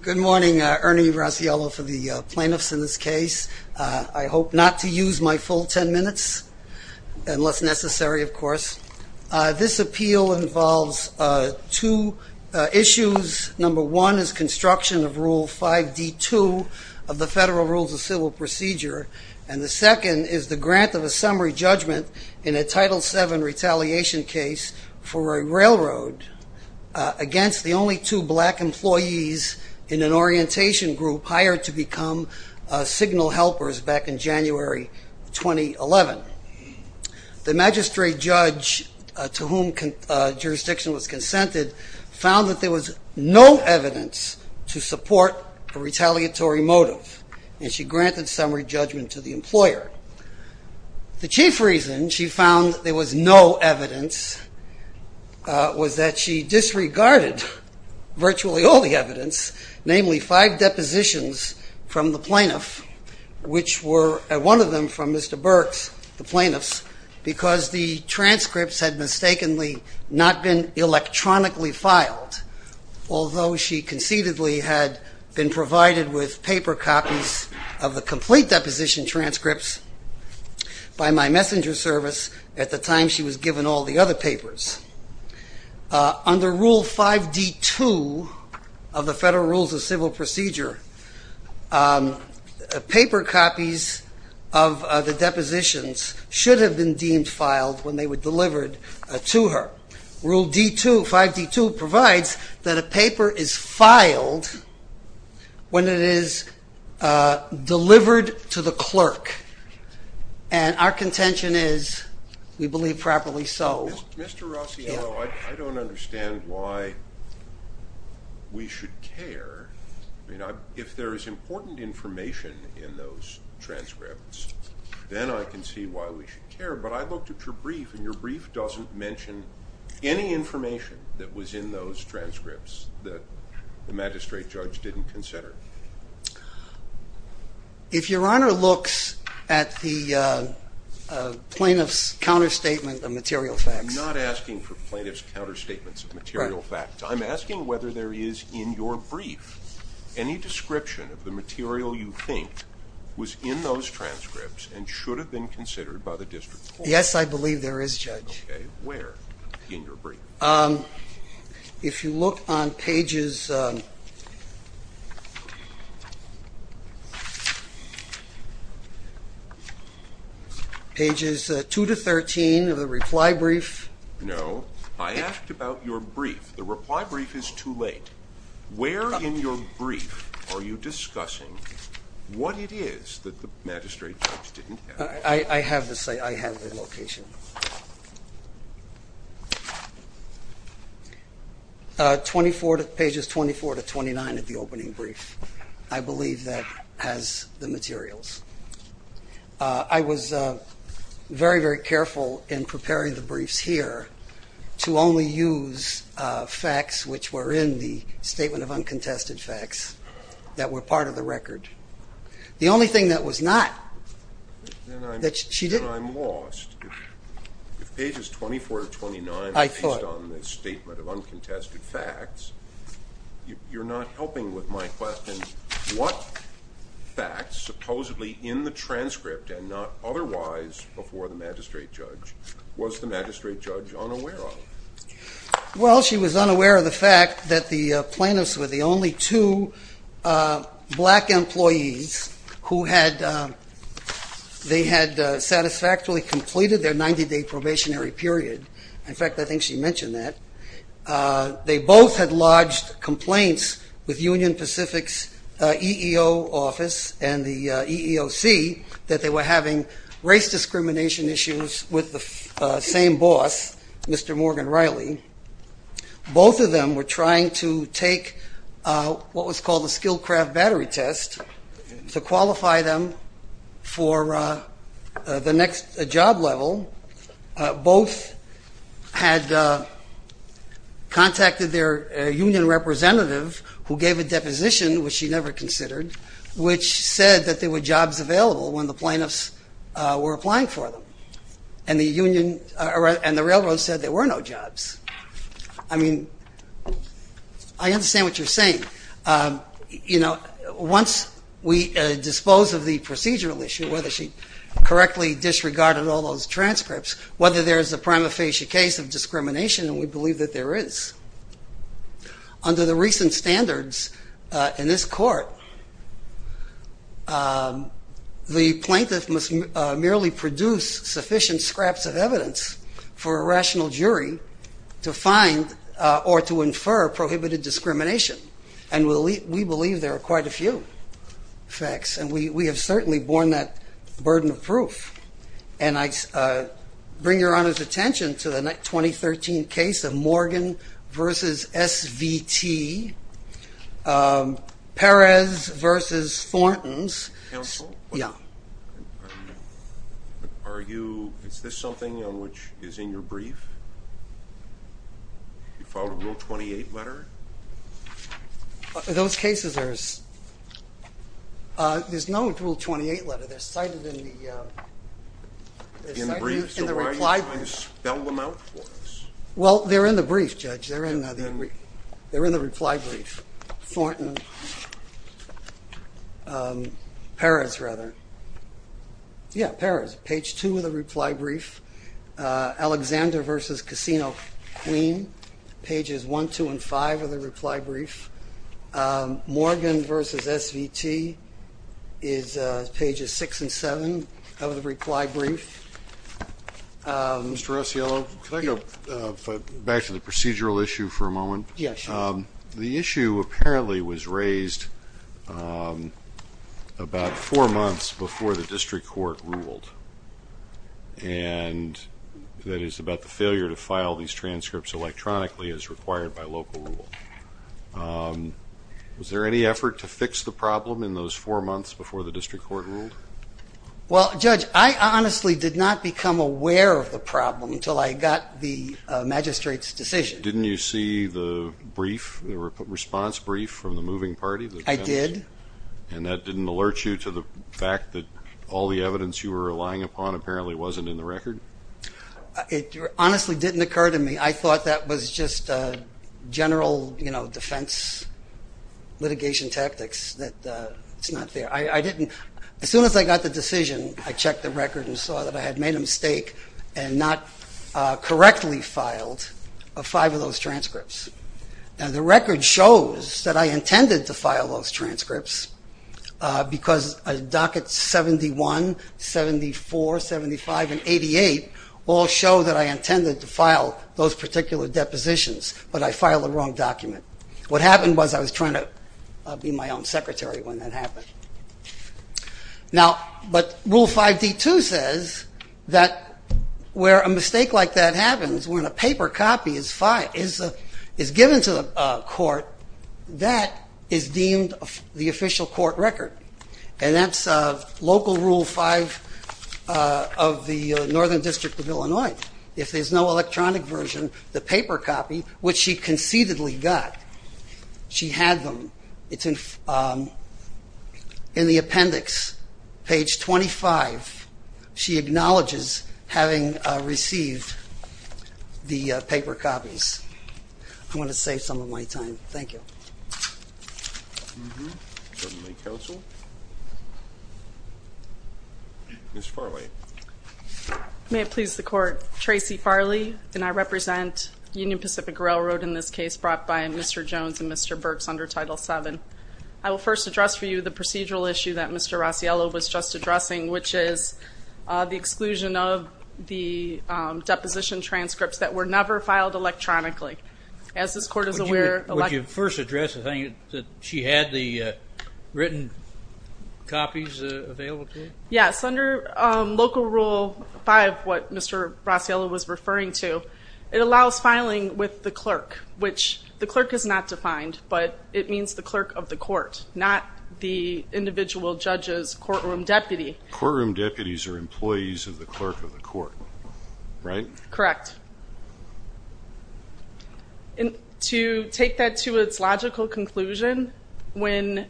Good morning. Ernie Rossiello for the plaintiffs in this case. I hope not to use my full 10 minutes unless necessary, of course. This appeal involves two issues. Number one is construction of Rule 5D2 of the Federal Rules of Civil Procedure. And the second is the grant of a summary judgment in a Title VII retaliation case for a railroad against the only two black employees in an orientation group hired to become signal helpers back in January 2011. The magistrate judge to whom jurisdiction was consented found that there was no evidence to support a retaliatory motive. And she granted summary judgment to the employer. The chief reason she found there was no evidence was that she disregarded virtually all the evidence, namely five depositions from the plaintiff, which were one of them from Mr. Burks, the plaintiffs, because the transcripts had mistakenly not been electronically filed, although she concededly had been provided with paper copies of the complete deposition transcripts by my messenger service at the time she was given all the other papers. Under Rule 5D2 of the Federal Rules of Civil Procedure, paper copies of the depositions should have been deemed filed when they were delivered to her. Rule 5D2 provides that a paper is filed when it is delivered to the clerk. And our contention is we believe properly so. Mr. Rossiano, I don't understand why we should care. If there is important information in those transcripts, then I can see why we should care. But I looked at your brief, and your brief doesn't mention any information that was in those transcripts that the magistrate judge didn't consider. If Your Honor looks at the plaintiff's counterstatement of material facts... I'm not asking for plaintiff's counterstatements of material facts. I'm asking whether there is in your brief any description of the material you think was in those transcripts and should have been considered by the district court. Yes, I believe there is, Judge. Okay, where in your brief? If you look on pages 2-13 of the reply brief... No, I asked about your brief. The reply brief is too late. Where in your brief are you discussing what it is that the magistrate judge didn't have? I have the location. Pages 24-29 of the opening brief, I believe that has the materials. I was very, very careful in preparing the briefs here to only use facts which were in the Statement of Uncontested Facts that were part of the record. The only thing that was not... Then I'm lost. If pages 24-29 are based on the Statement of Uncontested Facts, you're not helping with my question. What facts, supposedly in the transcript and not otherwise before the magistrate judge, was the magistrate judge unaware of? Well, she was unaware of the fact that the plaintiffs were the only two black employees who had satisfactorily completed their 90-day probationary period. In fact, I think she mentioned that. They both had lodged complaints with Union Pacific's EEO office and the EEOC that they were having race discrimination issues with the same boss, Mr. Morgan Riley. Both of them were trying to take what was called a skilled craft battery test to qualify them for the next job level. Both had contacted their union representative who gave a deposition, which she never considered, which said that there were jobs available when the plaintiffs were applying for them. And the railroad said there were no jobs. I mean, I understand what you're saying. Once we dispose of the procedural issue, whether she correctly disregarded all those transcripts, whether there's a prima facie case of discrimination, and we believe that there is. Under the recent standards in this court, the plaintiff must merely produce sufficient scraps of evidence for a rational jury to find or to infer prohibited discrimination. And we believe there are quite a few facts, and we have certainly borne that burden of proof. And I bring Your Honor's attention to the 2013 case of Morgan v. SVT, Perez v. Thornton's. Counsel? Yeah. Is this something which is in your brief? You filed a Rule 28 letter? Those cases, there's no Rule 28 letter. They're cited in the reply brief. So why are you trying to spell them out for us? Well, they're in the brief, Judge. They're in the reply brief. Thornton. Perez, rather. Yeah, Perez. Page 2 of the reply brief. Alexander v. Casino Queen, pages 1, 2, and 5 of the reply brief. Morgan v. SVT is pages 6 and 7 of the reply brief. Mr. Rossiello, can I go back to the procedural issue for a moment? Yeah, sure. The issue apparently was raised about four months before the district court ruled, and that is about the failure to file these transcripts electronically as required by local rule. Was there any effort to fix the problem in those four months before the district court ruled? Well, Judge, I honestly did not become aware of the problem until I got the magistrate's decision. Didn't you see the response brief from the moving party? I did. And that didn't alert you to the fact that all the evidence you were relying upon apparently wasn't in the record? It honestly didn't occur to me. I thought that was just general defense litigation tactics, that it's not there. As soon as I got the decision, I checked the record and saw that I had made a mistake and not correctly filed five of those transcripts. Now, the record shows that I intended to file those transcripts because dockets 71, 74, 75, and 88 all show that I intended to file those particular depositions, but I filed the wrong document. What happened was I was trying to be my own secretary when that happened. Now, but Rule 5D2 says that where a mistake like that happens, when a paper copy is given to a court, that is deemed the official court record, and that's Local Rule 5 of the Northern District of Illinois. If there's no electronic version, the paper copy, which she concededly got, she had them. It's in the appendix, page 25. She acknowledges having received the paper copies. I'm going to save some of my time. Thank you. Certainly, counsel. Ms. Farley. May it please the court. Tracy Farley, and I represent Union Pacific Railroad in this case brought by Mr. Jones and Mr. Burks under Title VII. I will first address for you the procedural issue that Mr. Rossiello was just addressing, which is the exclusion of the deposition transcripts that were never filed electronically. As this court is aware, electronic. Would you first address the thing that she had the written copies available to her? Yes, under Local Rule 5, what Mr. Rossiello was referring to, it allows filing with the clerk, which the clerk is not defined, but it means the clerk of the court, not the individual judge's courtroom deputy. Courtroom deputies are employees of the clerk of the court, right? Correct. And to take that to its logical conclusion, when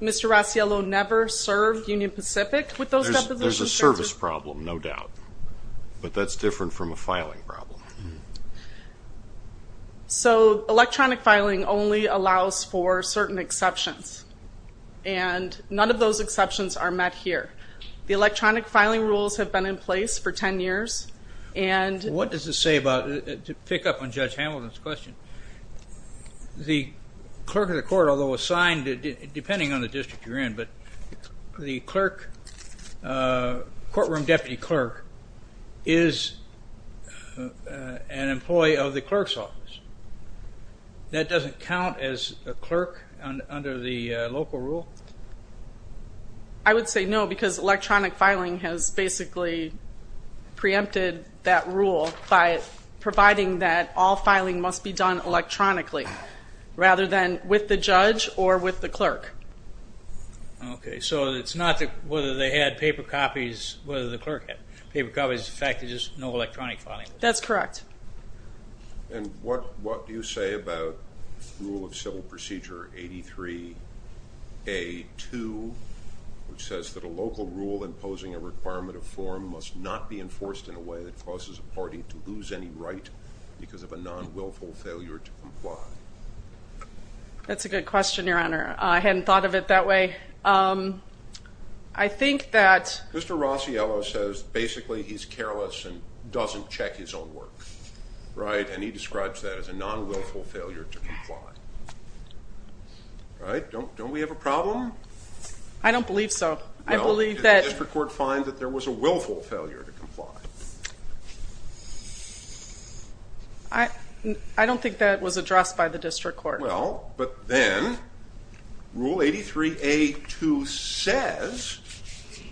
Mr. Rossiello never served Union Pacific with those deposition transcripts. There's a service problem, no doubt, but that's different from a filing problem. So electronic filing only allows for certain exceptions, and none of those exceptions are met here. The electronic filing rules have been in place for 10 years. What does this say about, to pick up on Judge Hamilton's question, the clerk of the court, although assigned, depending on the district you're in, but the clerk, courtroom deputy clerk, is an employee of the clerk's office. That doesn't count as a clerk under the local rule? I would say no, because electronic filing has basically preempted that rule by providing that all filing must be done electronically, rather than with the judge or with the clerk. Okay, so it's not whether they had paper copies, whether the clerk had paper copies, it's the fact that there's no electronic filing? That's correct. And what do you say about Rule of Civil Procedure 83A2, which says that a local rule imposing a requirement of form must not be enforced in a way that causes a party to lose any right because of a non-wilful failure to comply? That's a good question, Your Honor. I hadn't thought of it that way. Mr. Rossiello says basically he's careless and doesn't check his own work, and he describes that as a non-wilful failure to comply. Don't we have a problem? I don't believe so. Did the district court find that there was a willful failure to comply? I don't think that was addressed by the district court. All right, well, but then Rule 83A2 says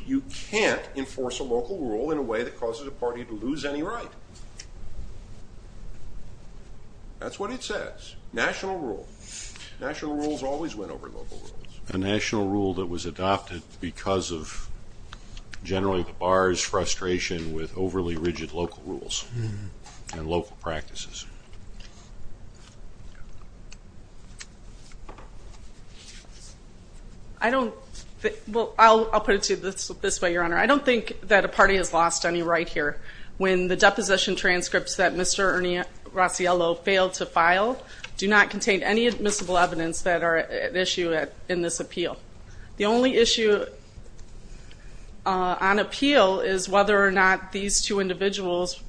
you can't enforce a local rule in a way that causes a party to lose any right. That's what it says, national rule. National rules always win over local rules. A national rule that was adopted because of generally the bar's frustration with overly rigid local rules and local practices. Well, I'll put it to you this way, Your Honor. I don't think that a party has lost any right here. When the deposition transcripts that Mr. Rossiello failed to file do not contain any admissible evidence that are at issue in this appeal. The only issue on appeal is whether or not these two individuals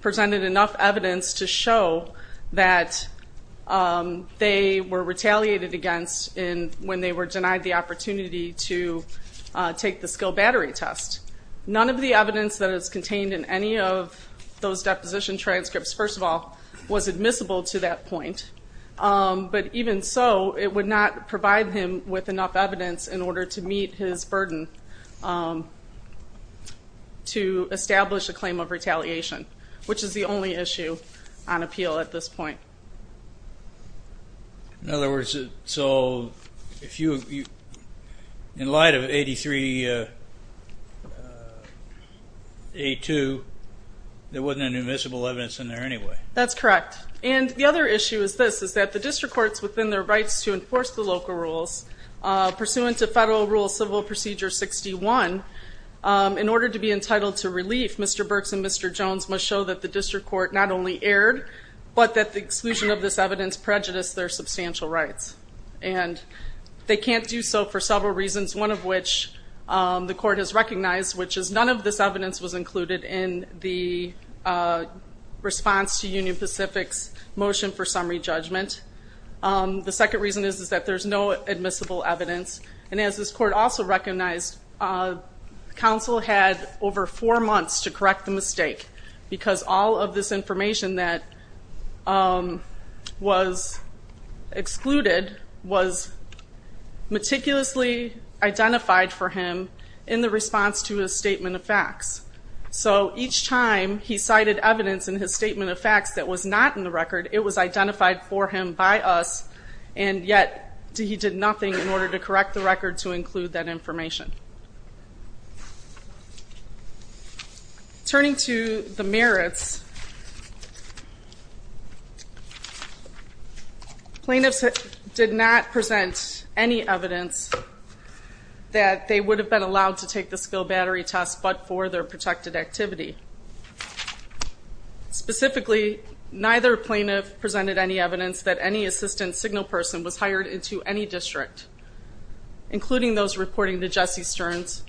presented enough evidence to show that they were retaliated against when they were denied the opportunity to take the skill battery test. None of the evidence that is contained in any of those deposition transcripts, first of all, was admissible to that point. But even so, it would not provide him with enough evidence in order to meet his burden to establish a claim of retaliation, which is the only issue on appeal at this point. In other words, so in light of 83A2, there wasn't any admissible evidence in there anyway. That's correct. And the other issue is this, is that the district courts within their rights to enforce the local rules, pursuant to Federal Rule Civil Procedure 61, in order to be entitled to relief, Mr. Burks and Mr. Jones must show that the district court not only erred, but that the exclusion of this evidence prejudiced their substantial rights. And they can't do so for several reasons, one of which the court has recognized, which is none of this evidence was included in the response to Union Pacific's motion for summary judgment. The second reason is that there's no admissible evidence. And as this court also recognized, counsel had over four months to correct the mistake because all of this information that was excluded was meticulously identified for him in the response to his statement of facts. So each time he cited evidence in his statement of facts that was not in the record, it was identified for him by us, and yet he did nothing in order to correct the record to include that information. Turning to the merits, plaintiffs did not present any evidence that they would have been allowed to take the skill battery test, but for their protected activity. Specifically, neither plaintiff presented any evidence that any assistant signal person was hired into any district, including those reporting to Jesse Stearns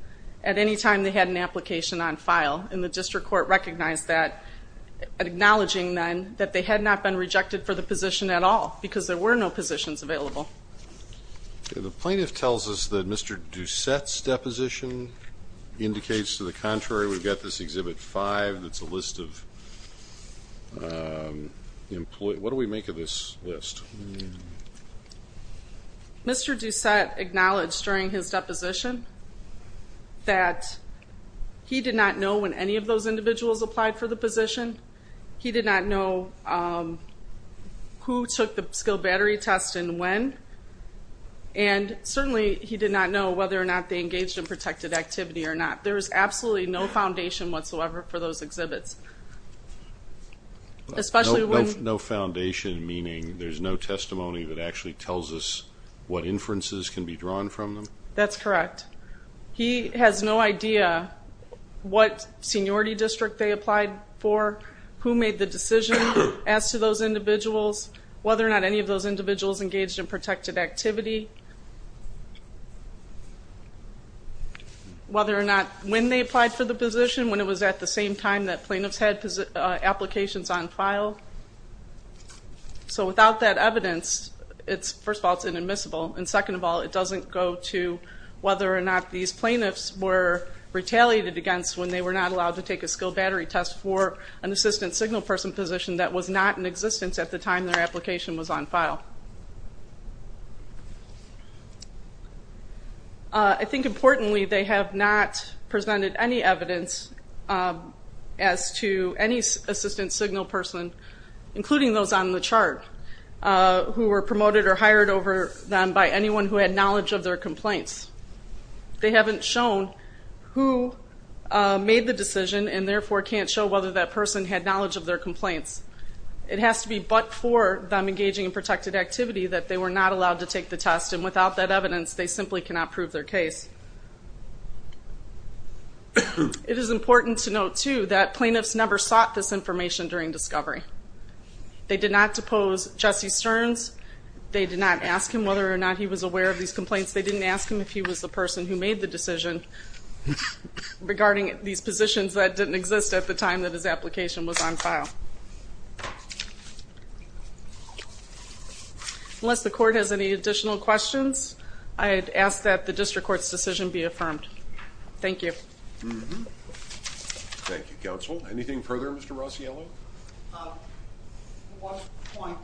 at any time they had an application on file. And the district court recognized that, acknowledging then that they had not been rejected for the position at all because there were no positions available. The plaintiff tells us that Mr. Doucette's deposition indicates to the contrary. We've got this Exhibit 5 that's a list of employees. What do we make of this list? Mr. Doucette acknowledged during his deposition that he did not know when any of those individuals applied for the position. He did not know who took the skill battery test and when, and certainly he did not know whether or not they engaged in protected activity or not. There is absolutely no foundation whatsoever for those exhibits. No foundation meaning there's no testimony that actually tells us what inferences can be drawn from them? That's correct. He has no idea what seniority district they applied for, who made the decision as to those individuals, whether or not any of those individuals engaged in protected activity, whether or not when they applied for the position, when it was at the same time that plaintiffs had applications on file. So without that evidence, first of all, it's inadmissible, and second of all, it doesn't go to whether or not these plaintiffs were retaliated against when they were not allowed to take a skill battery test for an assistant signal person position that was not in existence at the time their application was on file. I think importantly, they have not presented any evidence as to any assistant signal person, including those on the chart, who were promoted or hired over them by anyone who had knowledge of their complaints. They haven't shown who made the decision and therefore can't show whether that person had knowledge of their complaints. It has to be but for them engaging in protected activity that they were not allowed to take the test, and without that evidence, they simply cannot prove their case. It is important to note, too, that plaintiffs never sought this information during discovery. They did not depose Jesse Stearns. They did not ask him whether or not he was aware of these complaints. They didn't ask him if he was the person who made the decision regarding these positions that didn't exist at the time that his application was on file. Unless the court has any additional questions, I'd ask that the district court's decision be affirmed. Thank you. Thank you, counsel. Anything further, Mr. Rossiello? One point.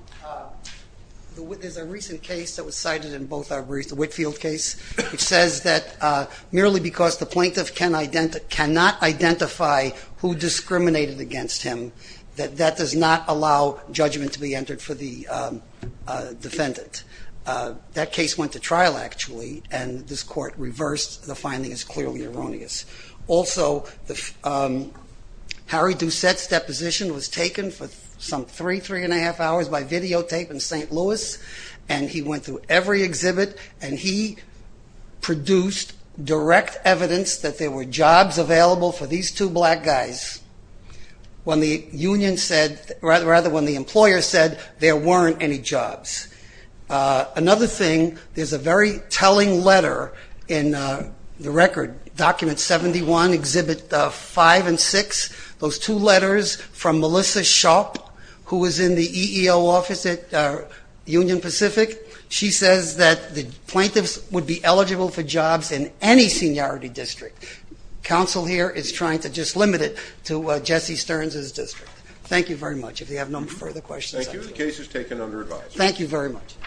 There's a recent case that was cited in both our briefs, the Whitfield case, which says that merely because the plaintiff cannot identify who discriminated against him, that that does not allow judgment to be entered for the defendant. That case went to trial, actually, and this court reversed the finding as clearly erroneous. Also, Harry Doucette's deposition was taken for some three, three-and-a-half hours by videotape in St. Louis, and he went through every exhibit, and he produced direct evidence that there were jobs available for these two black guys when the employer said there weren't any jobs. Another thing, there's a very telling letter in the record, document 71, exhibit 5 and 6, those two letters from Melissa Sharp, who was in the EEO office at Union Pacific. She says that the plaintiffs would be eligible for jobs in any seniority district. Counsel here is trying to just limit it to Jesse Stearns' district. Thank you very much. If you have no further questions. Thank you. The case is taken under advice. Thank you very much.